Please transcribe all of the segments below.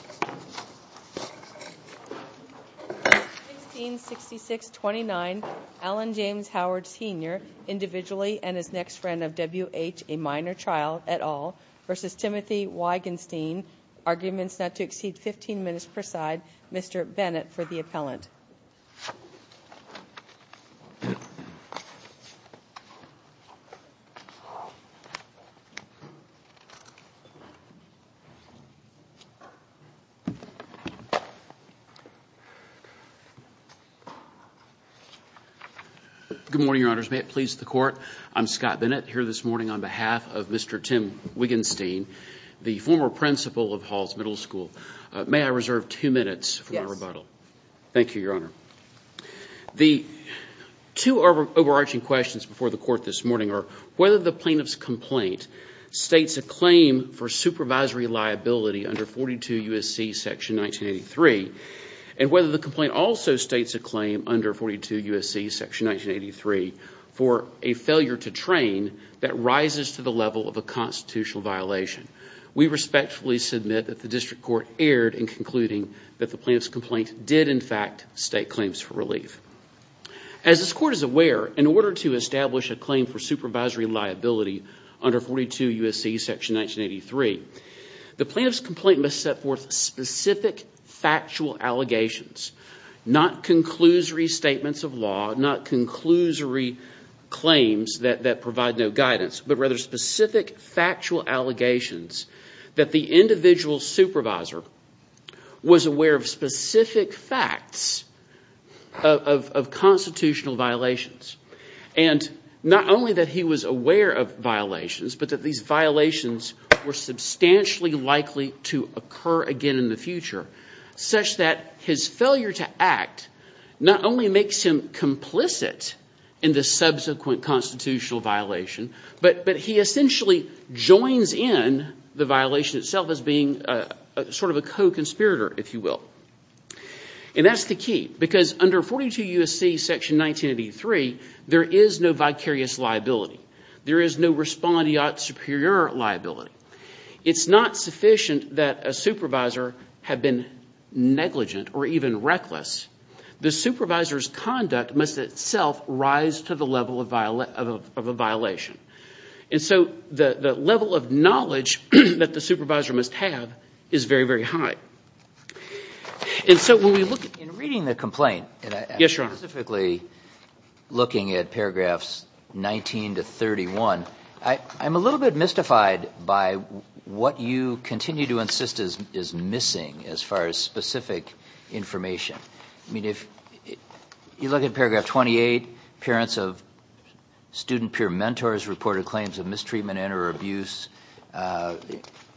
166629 Allen James Howard Sr individually and his next friend of W. H. a minor child et al. v. Timothy Wigenstein arguments not to exceed 15 minutes per side Mr. Bennett for the appellant. Good morning, your honors. May it please the court, I'm Scott Bennett here this morning on behalf of Mr. Tim Wigenstein, the former principal of Halls Middle School. May I reserve two minutes for my rebuttal? Yes. Thank you, your honor. The two overarching questions before the court this morning are whether the plaintiff's complaint states a claim for supervisory liability under 42 U.S.C. section 1983 and whether the complaint also states a claim under 42 U.S.C. section 1983 for a failure to train that rises to the level of a constitutional violation. We respectfully submit that the district court erred in concluding that the plaintiff's complaint did in fact state claims for relief. As this court is aware, in order to establish a claim for supervisory liability under 42 U.S.C. section 1983, the plaintiff's complaint must set forth specific factual allegations, not conclusory statements of law, not conclusory claims that provide no guidance, but rather specific factual allegations that the individual supervisor was aware of specific facts of constitutional violations. Not only that he was aware of violations, but that these violations were substantially likely to occur again in the future, such that his failure to act not only makes him complicit in the subsequent constitutional violation, but he essentially joins in the violation itself as being sort of a co-conspirator, if you will. And that's the key, because under 42 U.S.C. section 1983, there is no vicarious liability. There is no respondeat superior liability. It's not sufficient that a supervisor had been negligent or even reckless. The supervisor's conduct must itself rise to the level of a violation. And so the level of knowledge that the supervisor must have is very, very high. And so when we look at... In reading the complaint, specifically looking at paragraphs 19 to 31, I'm a little bit mystified by what you continue to insist is missing as far as specific information. I mean, if you look at paragraph 28, parents of student peer mentors reported claims of mistreatment and or abuse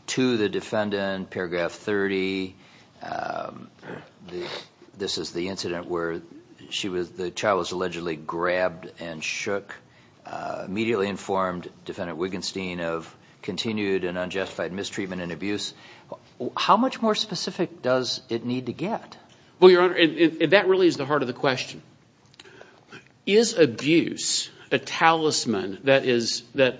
to the defendant. Paragraph 30, this is the incident where the child was allegedly grabbed and shook. Immediately informed Defendant Wigenstein of continued and unjustified mistreatment and abuse. How much more specific does it need to get? Well, Your Honor, that really is the heart of the question. Is abuse a talisman that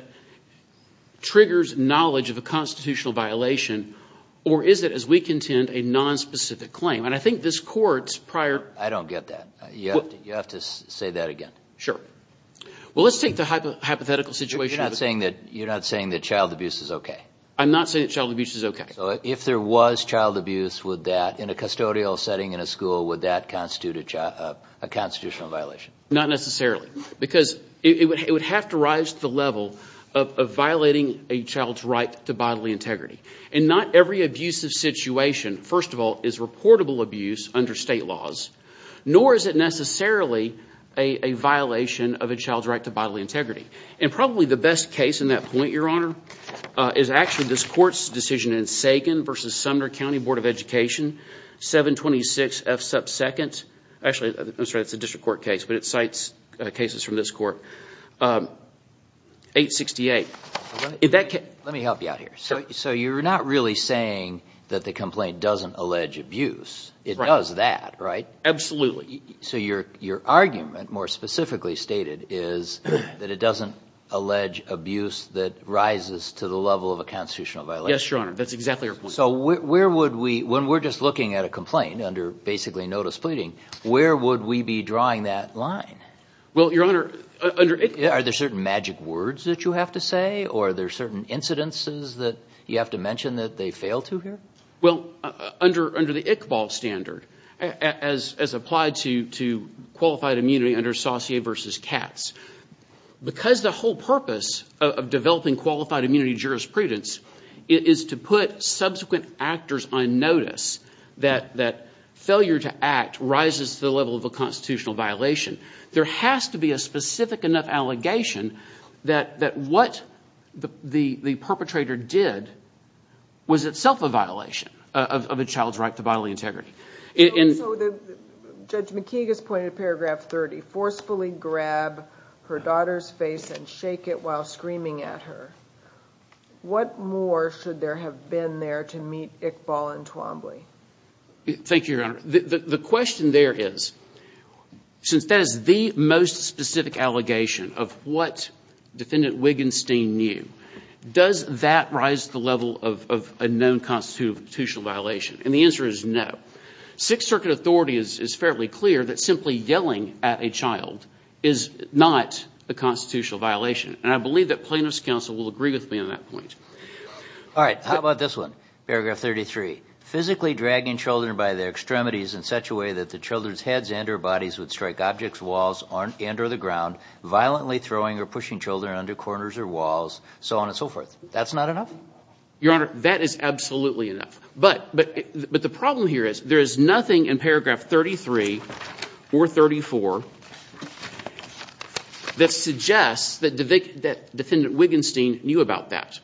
triggers knowledge of a constitutional violation, or is it, as we contend, a nonspecific claim? And I think this Court's prior... Sure. Well, let's take the hypothetical situation... You're not saying that child abuse is okay? I'm not saying that child abuse is okay. If there was child abuse, would that, in a custodial setting in a school, would that constitute a constitutional violation? Not necessarily. Because it would have to rise to the level of violating a child's right to bodily integrity. And not every abusive situation, first of all, is reportable abuse under state laws. Nor is it necessarily a violation of a child's right to bodily integrity. And probably the best case in that point, Your Honor, is actually this Court's decision in Sagan v. Sumner County Board of Education, 726 F. Sup. 2nd. Actually, I'm sorry, it's a district court case, but it cites cases from this Court. 868. Let me help you out here. So you're not really saying that the complaint doesn't allege abuse? It does that, right? Absolutely. So your argument, more specifically stated, is that it doesn't allege abuse that rises to the level of a constitutional violation? Yes, Your Honor. That's exactly our point. So where would we, when we're just looking at a complaint under basically notice pleading, where would we be drawing that line? Well, Your Honor, under ICVOL... Are there certain magic words that you have to say? Or are there certain incidences that you have to mention that they fail to hear? Well, under the ICVOL standard, as applied to qualified immunity under Saussure v. Katz, because the whole purpose of developing qualified immunity jurisprudence is to put subsequent actors on notice that failure to act rises to the level of a constitutional violation, there has to be a specific enough allegation that what the perpetrator did was itself a violation of a child's right to bodily integrity. So Judge McKeague has pointed to paragraph 30, forcefully grab her daughter's face and shake it while screaming at her. What more should there have been there to meet ICVOL and Twombly? Thank you, Your Honor. The question there is, since that is the most specific allegation of what Defendant Wiggenstein knew, does that rise to the level of a known constitutional violation? And the answer is no. Sixth Circuit authority is fairly clear that simply yelling at a child is not a constitutional violation. And I believe that plaintiff's counsel will agree with me on that point. All right. How about this one? Paragraph 33. Physically dragging children by their extremities in such a way that the children's heads and or bodies would strike objects, walls, and or the ground, violently throwing or pushing children under corners or walls, so on and so forth. That's not enough? Your Honor, that is absolutely enough. But the problem here is there is nothing in paragraph 33 or 34 that suggests that Defendant Wiggenstein knew about that.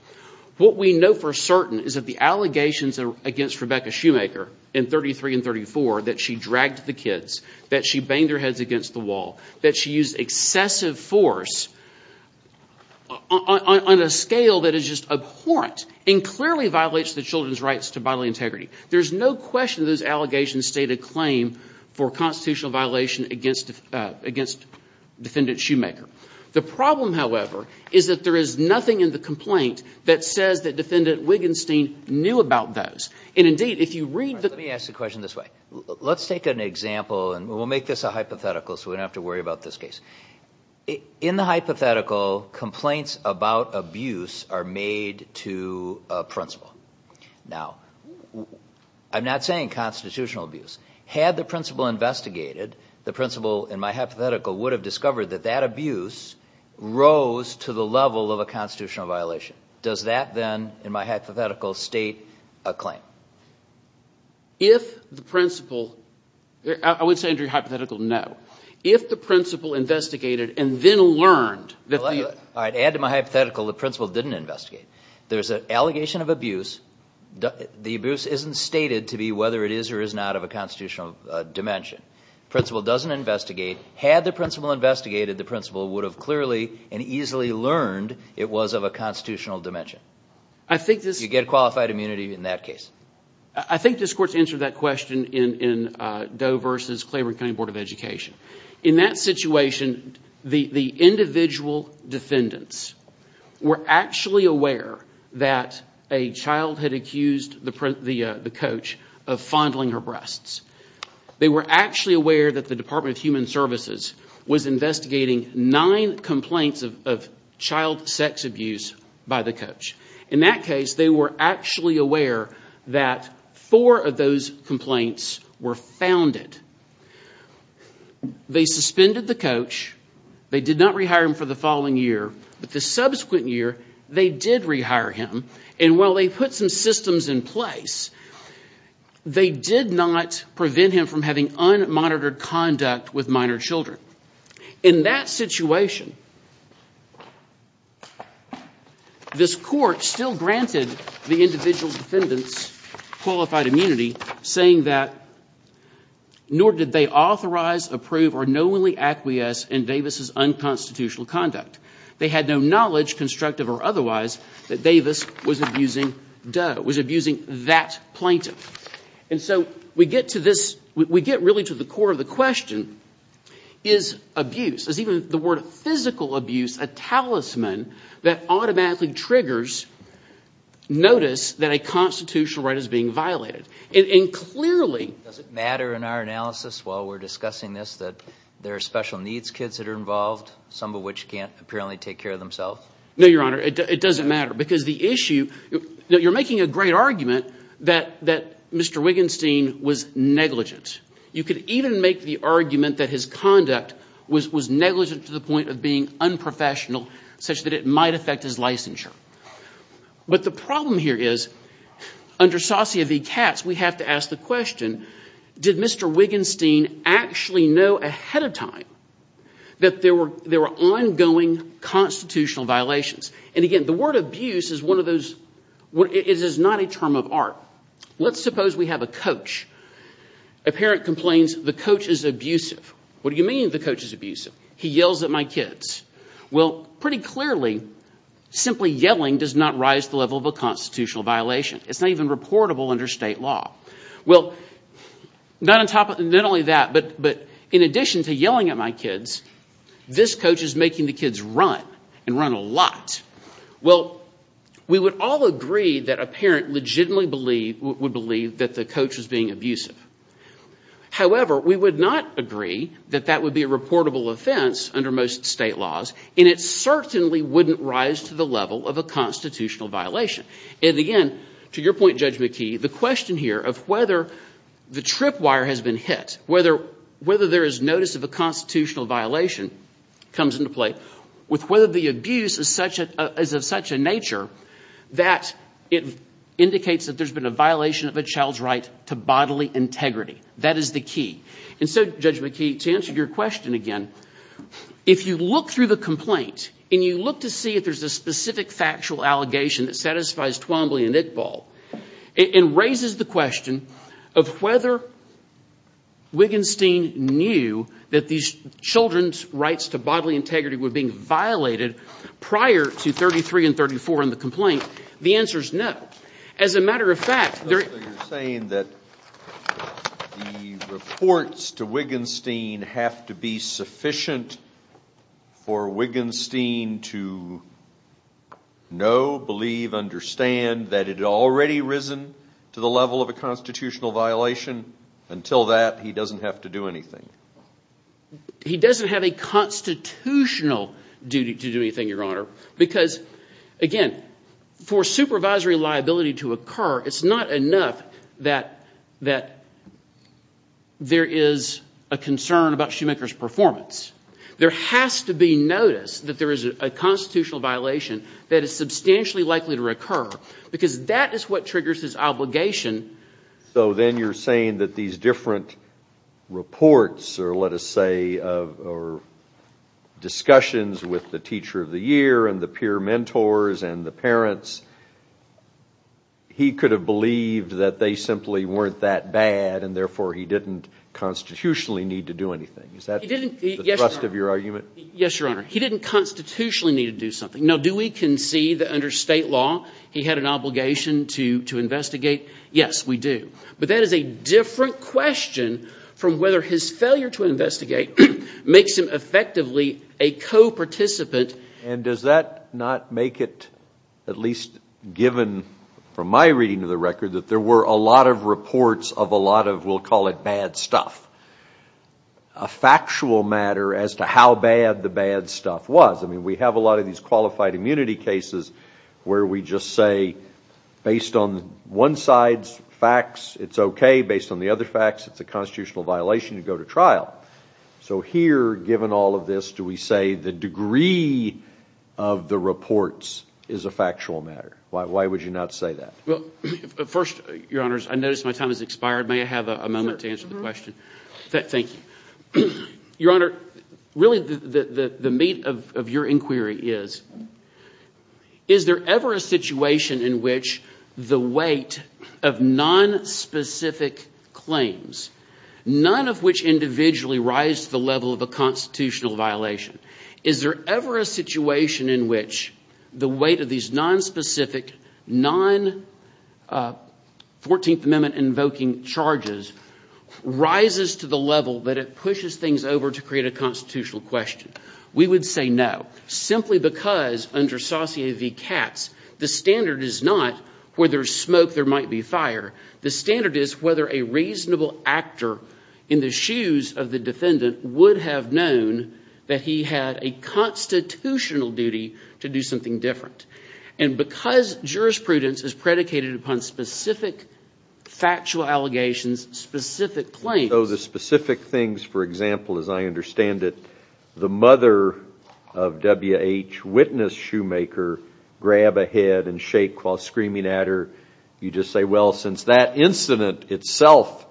What we know for certain is that the allegations against Rebecca Shoemaker in 33 and 34 that she dragged the kids, that she banged their heads against the wall, that she used excessive force on a scale that is just abhorrent and clearly violates the children's rights to bodily integrity. There is no question those allegations state a claim for constitutional violation against Defendant Shoemaker. The problem, however, is that there is nothing in the complaint that says that Defendant Wiggenstein knew about those. And indeed, if you read the- Let me ask the question this way. Let's take an example, and we'll make this a hypothetical so we don't have to worry about this case. In the hypothetical, complaints about abuse are made to a principal. Now, I'm not saying constitutional abuse. Had the principal investigated, the principal in my hypothetical would have discovered that that abuse rose to the level of a constitutional violation. Does that then, in my hypothetical, state a claim? If the principal- I wouldn't say under your hypothetical, no. If the principal investigated and then learned that the- All right. Add to my hypothetical the principal didn't investigate. There's an allegation of abuse. The abuse isn't stated to be whether it is or is not of a constitutional dimension. Principal doesn't investigate. Had the principal investigated, the principal would have clearly and easily learned it was of a constitutional dimension. I think this- You get qualified immunity in that case. I think this court's answered that question in Doe v. Claiborne County Board of Education. In that situation, the individual defendants were actually aware that a child had accused the coach of fondling her breasts. They were actually aware that the Department of Human Services had nine complaints of child sex abuse by the coach. In that case, they were actually aware that four of those complaints were founded. They suspended the coach. They did not rehire him for the following year. But the subsequent year, they did rehire him. And while they put some systems in place, they did not prevent him from having unmonitored conduct with minor children. In that situation, this court still granted the individual defendants qualified immunity, saying that, nor did they authorize, approve, or knowingly acquiesce in Davis's unconstitutional conduct. They had no knowledge, constructive or otherwise, that Davis was abusing Doe, was abusing that plaintiff. And so, we get to this, we get really to the core of the question, is abuse, is even the word physical abuse a talisman that automatically triggers notice that a constitutional right is being violated? And clearly- Does it matter in our analysis, while we're discussing this, that there are special needs kids that are involved, some of which can't apparently take care of themselves? No, Your Honor, it doesn't matter. Because the issue, you're making a great argument that Mr. Wigginstein was negligent. You could even make the argument that his conduct was negligent to the point of being unprofessional, such that it might affect his licensure. But the problem here is, under Sassia v. Katz, we have to ask the question, did Mr. Wigginstein actually know ahead of time that there were ongoing constitutional violations? And again, the word abuse is not a term of art. Let's suppose we have a coach. A parent complains the coach is abusive. What do you mean the coach is abusive? He yells at my kids. Well, pretty clearly, simply yelling does not rise the level of a constitutional violation. It's not even reportable under state law. Well, not only that, but in addition to yelling at my kids, this coach is making the kids run, and run a lot. Well, we would all agree that a parent legitimately would believe that the coach was being abusive. However, we would not agree that that would be a reportable offense under most state laws, and it certainly wouldn't rise to the level of a constitutional violation. And again, to your point, Judge McKee, the question here of whether the trip constitutional violation comes into play, with whether the abuse is of such a nature that it indicates that there's been a violation of a child's right to bodily integrity. That is the key. And so, Judge McKee, to answer your question again, if you look through the complaint and you look to see if there's a specific factual allegation that satisfies Twombly and Iqbal, it raises the question of whether Wigginstein knew that these children rights to bodily integrity were being violated prior to 33 and 34 in the complaint. The answer is no. As a matter of fact, there... So you're saying that the reports to Wigginstein have to be sufficient for Wigginstein to know, believe, understand that it had already risen to the level of a constitutional violation? Until that, he doesn't have to do anything? He doesn't have a constitutional duty to do anything, Your Honor, because, again, for supervisory liability to occur, it's not enough that there is a concern about Shoemaker's performance. There has to be notice that there is a constitutional violation that is substantially likely to occur, because that is what triggers his obligation. So then you're saying that these different reports, or let us say, or discussions with the Teacher of the Year and the peer mentors and the parents, he could have believed that they simply weren't that bad and therefore he didn't constitutionally need to do anything. Is that the thrust of your argument? Yes, Your Honor. He didn't constitutionally need to do something. Now, do we concede that Yes, we do. But that is a different question from whether his failure to investigate makes him effectively a co-participant. And does that not make it, at least given from my reading of the record, that there were a lot of reports of a lot of, we'll call it, bad stuff? A factual matter as to how bad the bad stuff was. I mean, we have a lot of these qualified immunity cases where we just say, based on one side's facts, it's okay. Based on the other facts, it's a constitutional violation to go to trial. So here, given all of this, do we say the degree of the reports is a factual matter? Why would you not say that? Well, first, Your Honors, I notice my time has expired. May I have a moment to answer the question? Thank you. Your Honor, really the meat of your inquiry is, is there ever a situation in which the weight of nonspecific claims, none of which individually rise to the level of a constitutional violation, is there ever a situation in which the weight of these nonspecific, non-14th Amendment invoking charges rises to the level that it pushes things over to create a constitutional question? We would say no, simply because, under Saussure v. Katz, the standard is not whether there's smoke, there might be fire. The standard is whether a reasonable actor in the shoes of the defendant would have known that he had a constitutional duty to do something different. And because jurisprudence is predicated upon specific factual allegations, specific claims... So the specific things, for example, as I understand it, the mother of W.H. Witness Shoemaker grab a head and shake while screaming at her, you just say, well, since that incident itself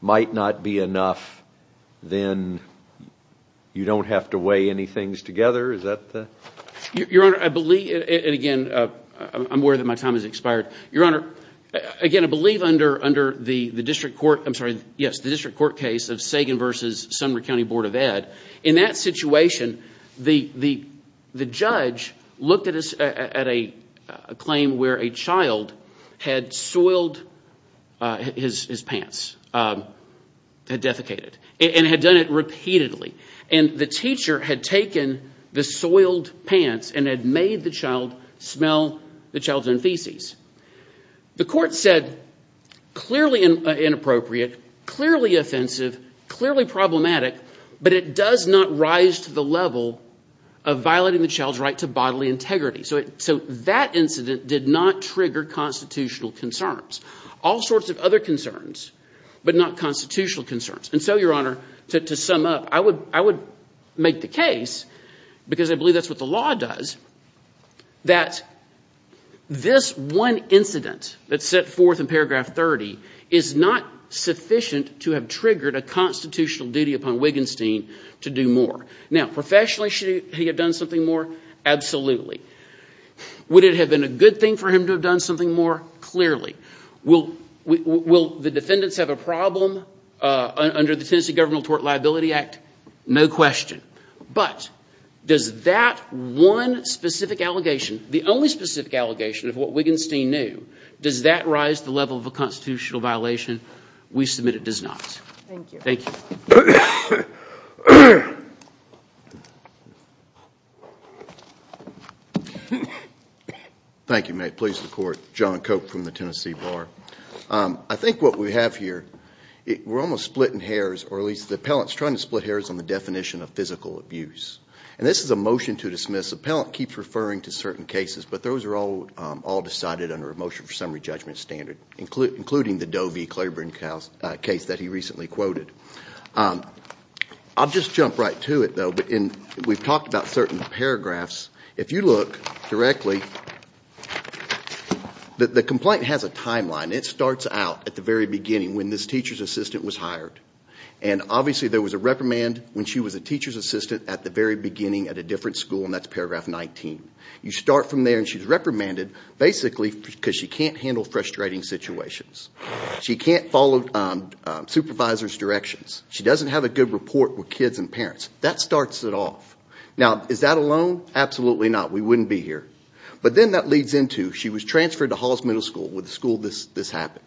might not be enough, then you don't have to weigh any things together? Is that the... Your Honor, I believe, and again, I'm aware that my time has expired. Your Honor, again, I believe under the district court, I'm sorry, yes, the district court case of Sagan v. Sumner County Board of Ed, in that situation, the judge looked at a claim where a child had soiled his pants, had defecated, and had done it repeatedly. And the teacher had taken the soiled pants and had made the child smell the child's own feces. The court said, clearly inappropriate, clearly offensive, clearly problematic, but it does not rise to the level of violating the child's right to bodily integrity. So that incident did not trigger constitutional concerns. All sorts of other concerns, but not constitutional concerns. And so, Your Honor, I make the case, because I believe that's what the law does, that this one incident that's set forth in paragraph 30 is not sufficient to have triggered a constitutional duty upon Wigginstein to do more. Now, professionally, should he have done something more? Absolutely. Would it have been a good thing for him to have done something more? Clearly. Will the question. But, does that one specific allegation, the only specific allegation of what Wigginstein knew, does that rise to the level of a constitutional violation? We submit it does not. Thank you. Thank you, mate. Please report. John Cope from the Tennessee Bar. I think what we have here, we're almost splitting hairs, or at least the appellant's trying to split hairs on the definition of physical abuse. And this is a motion to dismiss. The appellant keeps referring to certain cases, but those are all decided under a motion for summary judgment standard, including the Doe v. Claiborne case that he recently quoted. I'll just jump right to it, though. We've talked about certain paragraphs. If you look directly, the complaint has a timeline. It starts out at the very beginning, when this teacher's assistant was hired. Obviously, there was a reprimand when she was a teacher's assistant at the very beginning at a different school, and that's paragraph 19. You start from there and she's reprimanded, basically because she can't handle frustrating situations. She can't follow supervisors' directions. She doesn't have a good report with kids and parents. That starts it off. Now, is that alone? Absolutely not. We wouldn't be here. But then that leads into she was transferred to Halls Middle School, where the school this happened.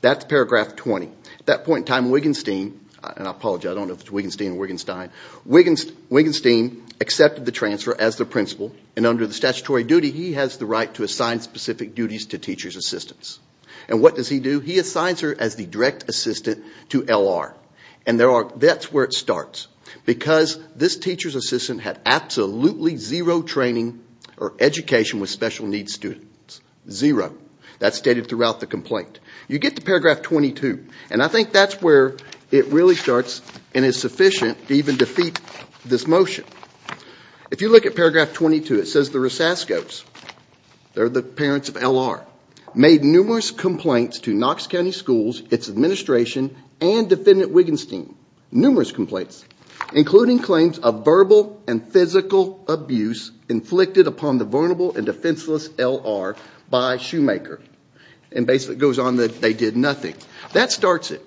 That's paragraph 20. At that point in time, Wigenstein accepted the transfer as the principal, and under the statutory duty, he has the right to assign specific duties to teacher's assistants. What does he do? He assigns her as the direct assistant to L.R. That's where it starts, because this teacher's assistant had absolutely zero training or education with special needs students. Zero. That's stated throughout the complaint. You get to paragraph 22, and I think that's where it really starts and is sufficient to even defeat this motion. If you look at paragraph 22, it says the Rosaskos, they're the parents of L.R., made numerous complaints to Knox County Schools, its administration, and Defendant Wigenstein. Numerous complaints, including a verbal and physical abuse inflicted upon the vulnerable and defenseless L.R. by Shoemaker, and basically it goes on that they did nothing. That starts it.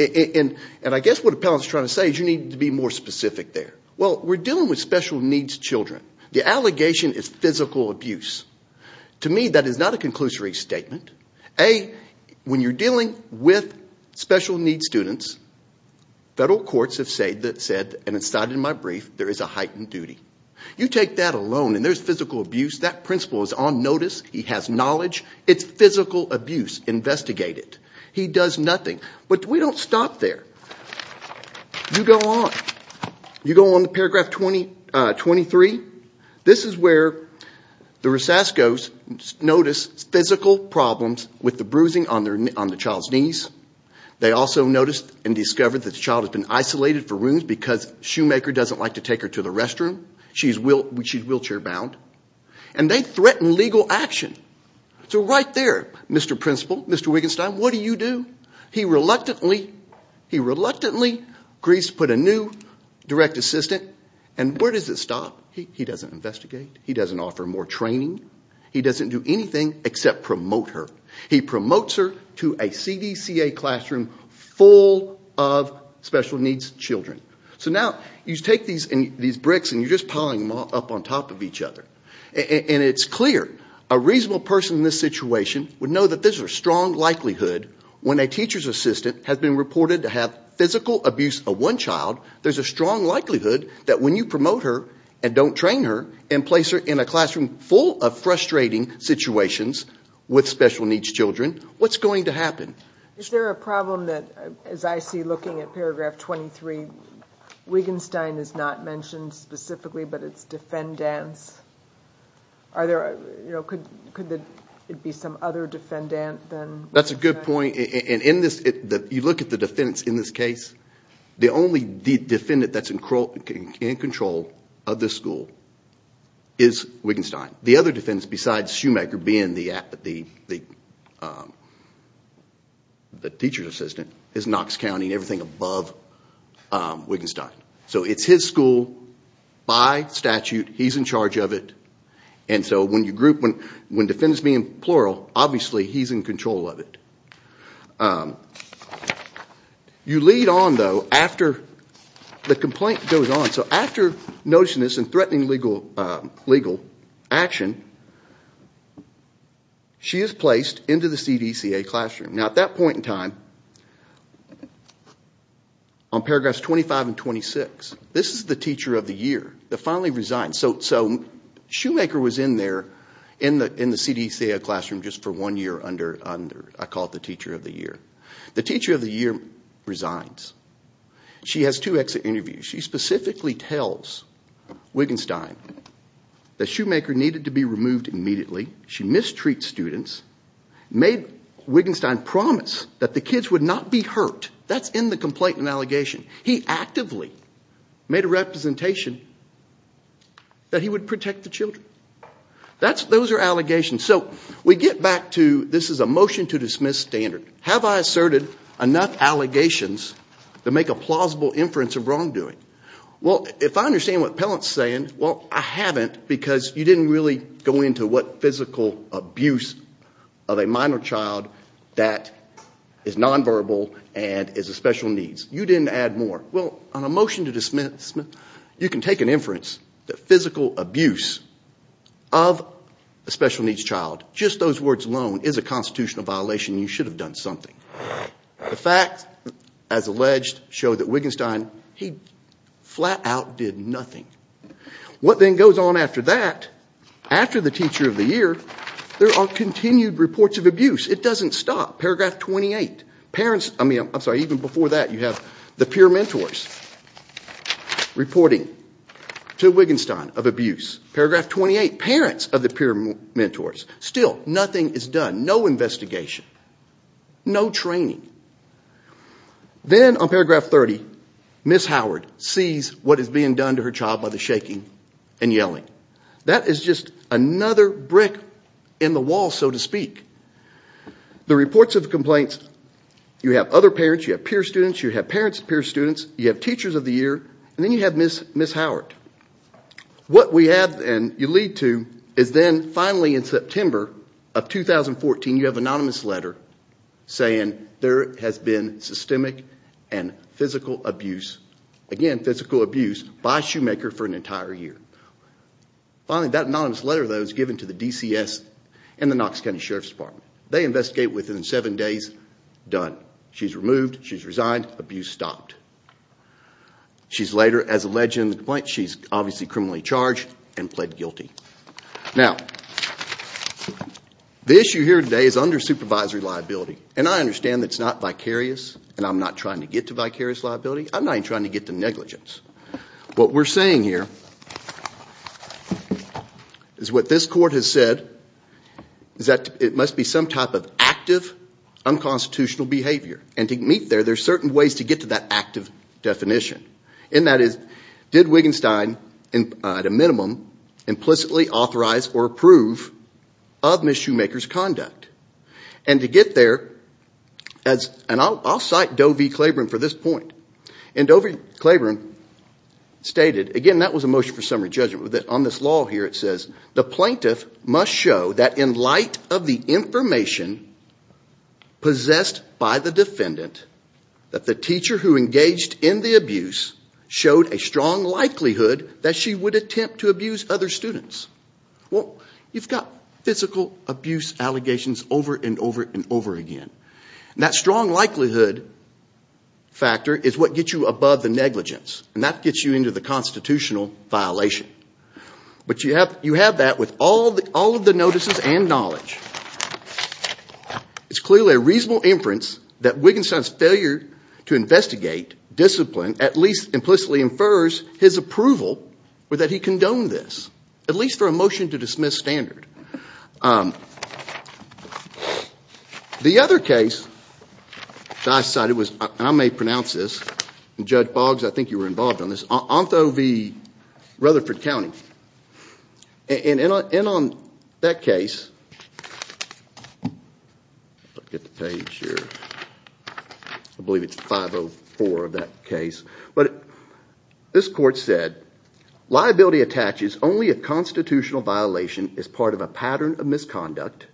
I guess what Appellant's trying to say is you need to be more specific there. We're dealing with special needs children. The allegation is physical abuse. To me, that is not a conclusory statement. A, when you're in my brief, there is a heightened duty. You take that alone, and there's physical abuse. That principal is on notice. He has knowledge. It's physical abuse. Investigate it. He does nothing. But we don't stop there. You go on. You go on to paragraph 23. This is where the Rosaskos notice physical problems with the bruising on the child's knees. They also notice and discover that the child has been isolated for rooms because Shoemaker doesn't like to take her to the restroom. She's wheelchair bound. And they threaten legal action. So right there, Mr. Principal, Mr. Wigenstein, what do you do? He reluctantly agrees to put a new direct assistant. And where does it stop? He doesn't investigate. He doesn't offer more training. He doesn't do anything except promote her. He promotes her to a CDCA classroom full of special needs children. So now you take these bricks and you're just piling them up on top of each other. And it's clear a reasonable person in this situation would know that there's a strong likelihood when a teacher's assistant has been reported to have physical abuse of one child, there's a strong likelihood that when you promote her and don't train her and place her in a classroom full of frustrating situations with special needs children, what's going to happen? Is there a problem that, as I see looking at paragraph 23, Wigenstein is not mentioned specifically but it's defendants? Could it be some other defendant than Wigenstein? That's a good point. And you look at the defendants in this case, the only defendant that's in control of this school is Wigenstein. The other defendants besides Schumacher being the teacher's assistant is Knox County and everything above Wigenstein. So it's his school by statute. He's in charge of it. And so when defendants being plural, obviously he's in control of it. You lead on, though, after the complaint goes on. So after noticing this and threatening legal action, she is placed into the CDCA classroom. Now at that point in time, on paragraphs 25 and 26, this is the teacher of the year that finally resigns. So Schumacher was in there in the classroom. The teacher of the year resigns. She has two exit interviews. She specifically tells Wigenstein that Schumacher needed to be removed immediately. She mistreats students, made Wigenstein promise that the kids would not be hurt. That's in the complaint and allegation. He actively made a representation that he would protect the children. Those are allegations. So we get back to this is a motion to dismiss standard. Have I asserted enough allegations to make a plausible inference of wrongdoing? Well, if I understand what Pellant is saying, I haven't because you didn't really go into what physical abuse of a minor child that is non-verbal and is a special needs. You didn't add more. Well, on a motion to dismiss, you can take an inference that physical abuse of a special needs child, just those words alone is a constitutional violation. You should have done something. The facts, as alleged, show that Wigenstein, he flat out did nothing. What then goes on after that, after the teacher of the year, there are continued reports of abuse. It doesn't stop. Paragraph 28. Even before that, you have the peer mentors reporting to Wigenstein of abuse. Paragraph 28, parents of the peer mentors. Still, nothing is done. No investigation. No training. Then on paragraph 30, Ms. Howard sees what is being done to her child by the shaking and yelling. That is just another brick in the wall, so to speak. The reports of complaints, you have other parents, you have peer students, you have parents of peer students, you have teachers of the year, and then you have Ms. Howard. What we have, and you lead to, is then finally in September of 2014, you have an anonymous letter saying there has been systemic and physical abuse. Again, physical abuse by a shoemaker for an entire year. Finally, that anonymous letter, though, is given to the DCS and the Knox County Sheriff's Department. They investigate within seven days. Done. She's removed. She's resigned. Abuse stopped. She's later, as alleged in the complaint, she's obviously criminally charged and pled guilty. Now, the issue here today is under supervisory liability. I understand that it's not vicarious, and I'm not trying to get to vicarious liability. I'm not even trying to get to negligence. What we're saying here is what this court has said is that it must be some type of active unconstitutional behavior. To meet there, there's certain ways to get to that active definition. That is, did Wittgenstein, at a minimum, implicitly authorize or approve of Ms. Shoemaker's conduct? To get there, and I'll cite Doe v. Claiborne for this point. Doe v. Claiborne stated, again, that was a motion for summary judgment. On this law here, it says, the plaintiff must show that in light of the information possessed by the defendant, that the teacher who engaged in the abuse showed a strong likelihood that she would attempt to abuse other students. Well, you've got physical abuse allegations over and over and over again. That strong likelihood factor is what gets you above the negligence, and that gets you into the constitutional violation. But you have that with all of the notices and knowledge. It's clearly a reasonable inference that Wittgenstein's failure to investigate, discipline, at least implicitly infers his approval or that he condoned this, at least for a motion to dismiss standard. The other case that I cited was, and I may pronounce this, and Judge Boggs, I think you were involved in this, Ontho v. Rutherford County. And on that case, I believe it's 504 of that case, but this court said, liability attaches only a constitutional violation as part of a pattern of misconduct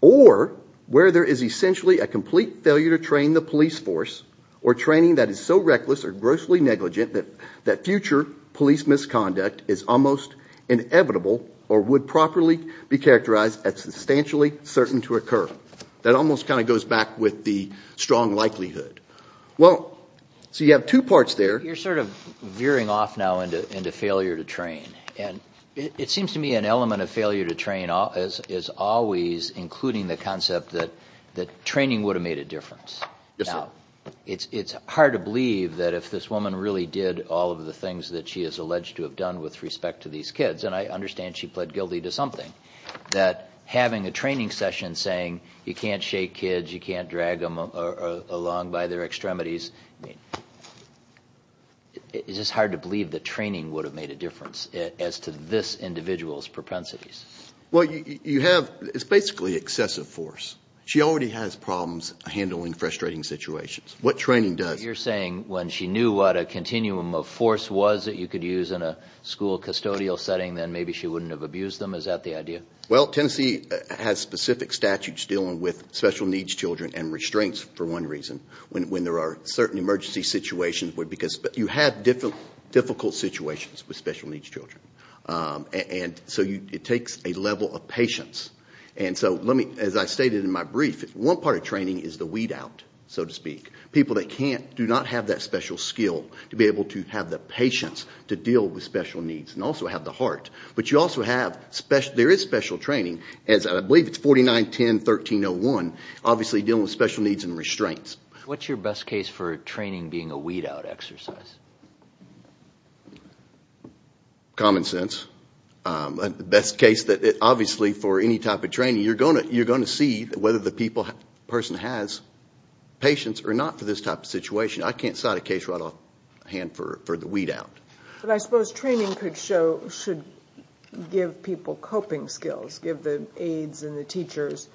or where there is essentially a complete failure to train the police force or training that is so reckless or grossly negligent that future police misconduct is almost inevitable or would properly be characterized as substantially certain to occur. That almost kind of goes back with the strong likelihood. Well, so you have two parts there. You're sort of veering off now into failure to train, and it seems to me an element of failure to train is always including the concept that training would have made a difference. It's hard to believe that if this woman really did all of the things that she is alleged to have done with respect to these kids, and I understand she pled guilty to something, that having a training session saying you can't shake kids, you can't drag them along by their extremities, I mean, it's just hard to believe that training would have made a Well, you have, it's basically excessive force. She already has problems handling frustrating situations. What training does? You're saying when she knew what a continuum of force was that you could use in a school custodial setting, then maybe she wouldn't have abused them? Is that the idea? Well, Tennessee has specific statutes dealing with special needs children and restraints, for one reason, when there are certain emergency situations because you have difficult situations with special needs children. It takes a level of patience. As I stated in my brief, one part of training is the weed out, so to speak. People that can't do not have that special skill to be able to have the patience to deal with special needs and also have the heart, but you also have, there is special training, as I believe it's 4910-1301, obviously dealing with special needs and restraints. What's your best case for training being a weed out exercise? Common sense. The best case, obviously for any type of training, you're going to see whether the person has patience or not for this type of situation. I can't cite a case right off hand for the weed out. But I suppose training should give people coping skills, give the aides and the teachers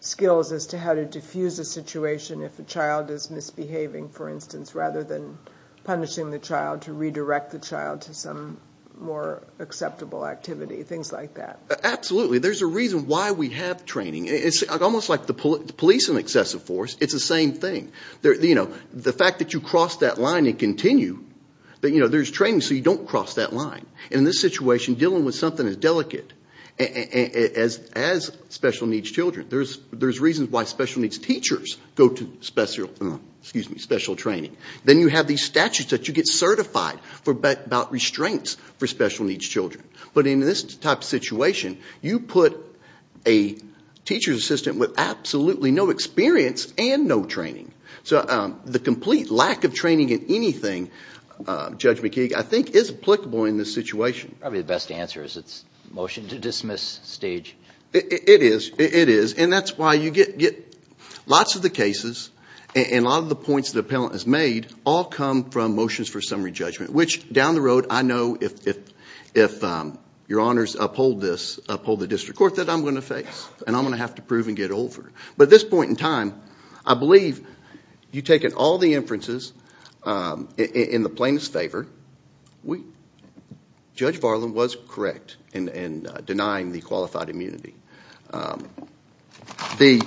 skills as to how to defuse a situation if a child is misbehaving, for instance, rather than punishing the child to redirect the child to some more acceptable activity, things like that. Absolutely. There's a reason why we have training. It's almost like the police and excessive force, it's the same thing. The fact that you cross that line and continue, there's training so you don't cross that line. In this situation, dealing with something as delicate as special needs children, there's reasons why special needs teachers go to special training. Then you have these statutes that you get certified about restraints for special needs children. But in this type of situation, you put a teacher's assistant with absolutely no experience and no training. The complete lack of training in anything, Judge McKeague, I think is applicable in this situation. Probably the best answer is it's a motion to dismiss stage. It is. It is. That's why you get lots of the cases and a lot of the points the appellant has made all come from motions for summary judgment, which down the road, I know if your honors uphold this, uphold the district court that I'm going to face and I'm going to have to prove and get it over. But at this point in time, I believe you've taken all the inferences in the plainest favor. Judge Varlin was correct in denying the qualified immunity. The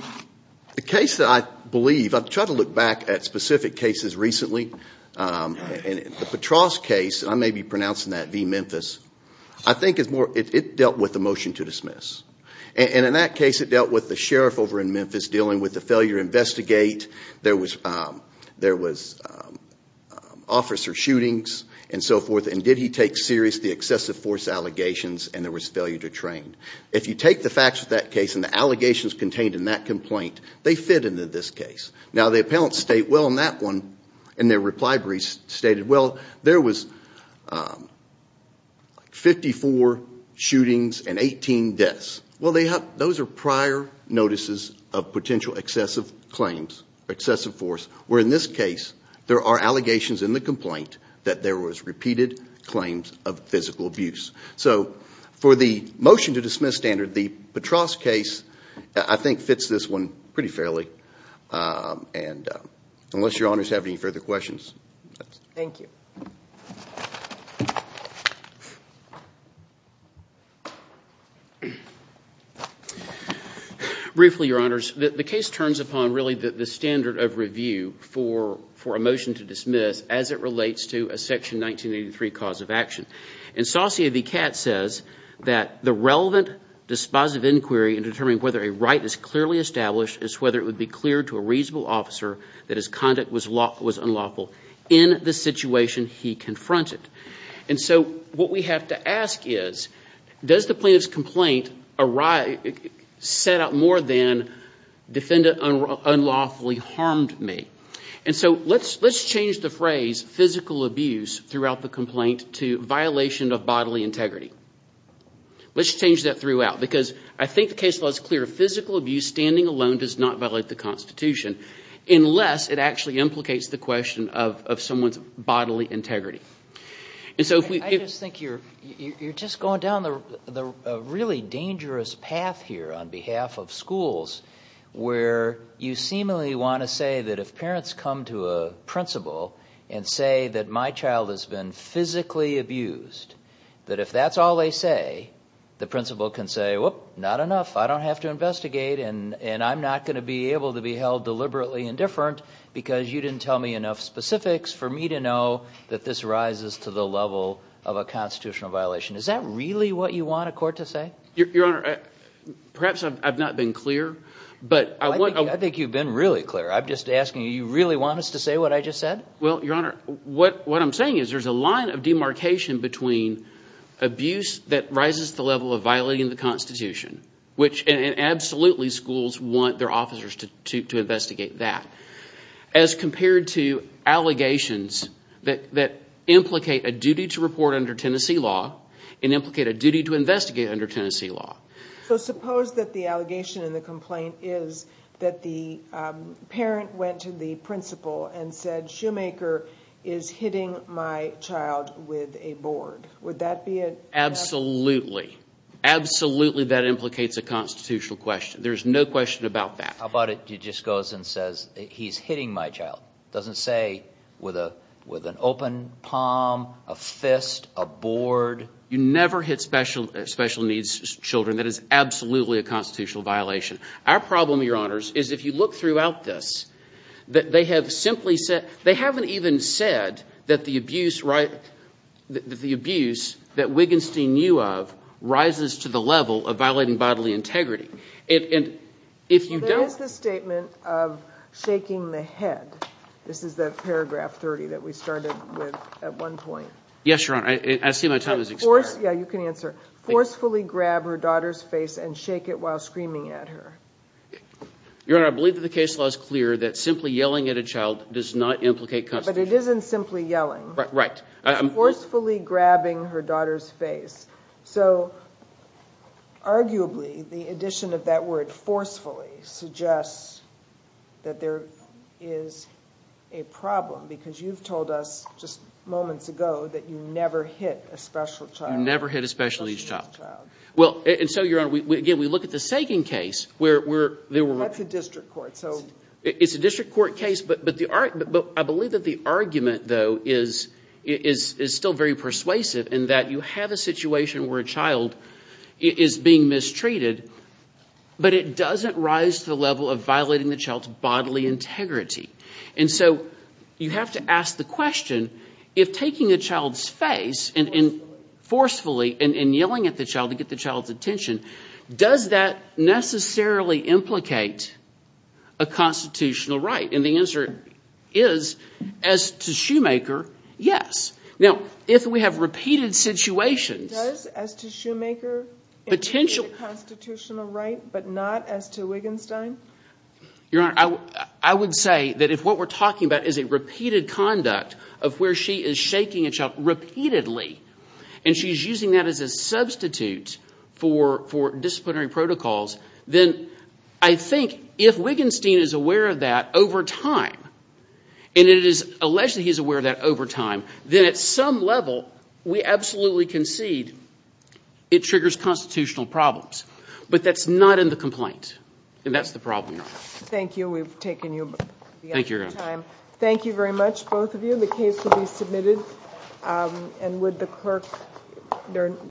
case that I believe, I've tried to look back at specific cases recently, the Patras case, I may be pronouncing that V. Memphis, I think it dealt with a motion to dismiss. In that case, it dealt with the sheriff over in Memphis dealing with the failure to investigate. There was officer shootings and so forth. Did he take serious the excessive force allegations and there was failure to train? If you take the facts of that case and the allegations contained in that complaint, they fit into this case. The appellant's state well in that one and their reply brief stated, well, there was 54 shootings and 18 deaths. Those are prior notices of potential excessive claims, excessive force, where in this case, there are allegations in the complaint that there was repeated claims of physical abuse. For the motion to dismiss standard, the Patras case, I think fits this one pretty fairly. Unless your honors have any further questions. Thank you. Briefly, your honors, the case turns upon really the standard of review for a motion to dismiss as it relates to a section 1983 cause of action. Saucier v. Katz says that the relevant dispositive inquiry in determining whether a right is clearly established is whether it would be clear to a reasonable officer that his conduct was unlawful in the situation he confronted. And so what we have to ask is, does the plaintiff's complaint set up more than defendant unlawfully harmed me? And so let's change the phrase physical abuse throughout the complaint to violation of bodily integrity. Let's change that throughout because I think the case law is clear. Physical abuse standing alone does not violate the Constitution unless it actually implicates the question of someone's bodily integrity. I just think you're just going down a really dangerous path here on behalf of schools where you seemingly want to say that if parents come to a principal and say that my child has been physically abused, that if that's all they say, the principal can say, whoop, not enough. I don't have to investigate and I'm not going to be able to be held deliberately indifferent because you didn't tell me enough specifics for me to know that this rises to the level of a constitutional violation. Is that really what you want a court to say? Your Honor, perhaps I've not been clear, but I think you've been really clear. I'm just asking you, you really want us to say what I just said? Well, Your Honor, what I'm saying is there's a line of demarcation between abuse that rises to the level of violating the Constitution, which absolutely schools want their officers to investigate that, as compared to allegations that implicate a duty to report under Tennessee law and implicate a duty to investigate under Tennessee law. Suppose that the allegation in the complaint is that the parent went to the principal and said Shoemaker is hitting my child with a board. Would that be a... Absolutely, absolutely that implicates a constitutional question. There's no question about that. How about it? He just goes and says he's hitting my child. Doesn't say with an open palm, a fist, a board. You never hit special needs children. That is absolutely a constitutional violation. Our problem, Your Honors, is if you look throughout this, they haven't even said that the abuse that Wigenstein knew of rises to the level of violating bodily integrity. There is the statement of shaking the head. This is the paragraph 30 that we started with at one point. Yes, Your Honor. I see my time has expired. Yeah, you can answer. Forcefully grab her daughter's face and shake it while screaming at her. Your Honor, I believe that the case law is clear that simply yelling at a child does not implicate constitution. Right. It's forcefully grabbing her daughter's face. Arguably, the addition of that word forcefully suggests that there is a problem because you've told us just moments ago that you never hit a special needs child. Never hit a special needs child. Well, and so, Your Honor, again, we look at the Sagan case, where there were... That's a district court. It's a district court case, but I believe that the argument, though, is still very persuasive in that you have a situation where a child is being mistreated, but it doesn't rise to the level of violating the child's bodily integrity. You have to ask the question, if taking a child's face and forcefully and yelling at the child to get the child's attention, does that necessarily implicate a constitutional right? The answer is, as to Shoemaker, yes. Now, if we have repeated situations... Does, as to Shoemaker, implicate a constitutional right, but not as to Wiggenstein? Your Honor, I would say that if what we're talking about is a repeated conduct of where she is shaking a child repeatedly, and she's using that as a substitute for disciplinary protocols, then I think if Wiggenstein is aware of that over time, and it is alleged that he's aware of that over time, then at some level, we absolutely concede it triggers constitutional problems. But that's not in the complaint, and that's the problem, Your Honor. Thank you. We've taken you... Thank you, Your Honor.... out of your time. Thank you very much, both of you. The case will be submitted, and would the clerk...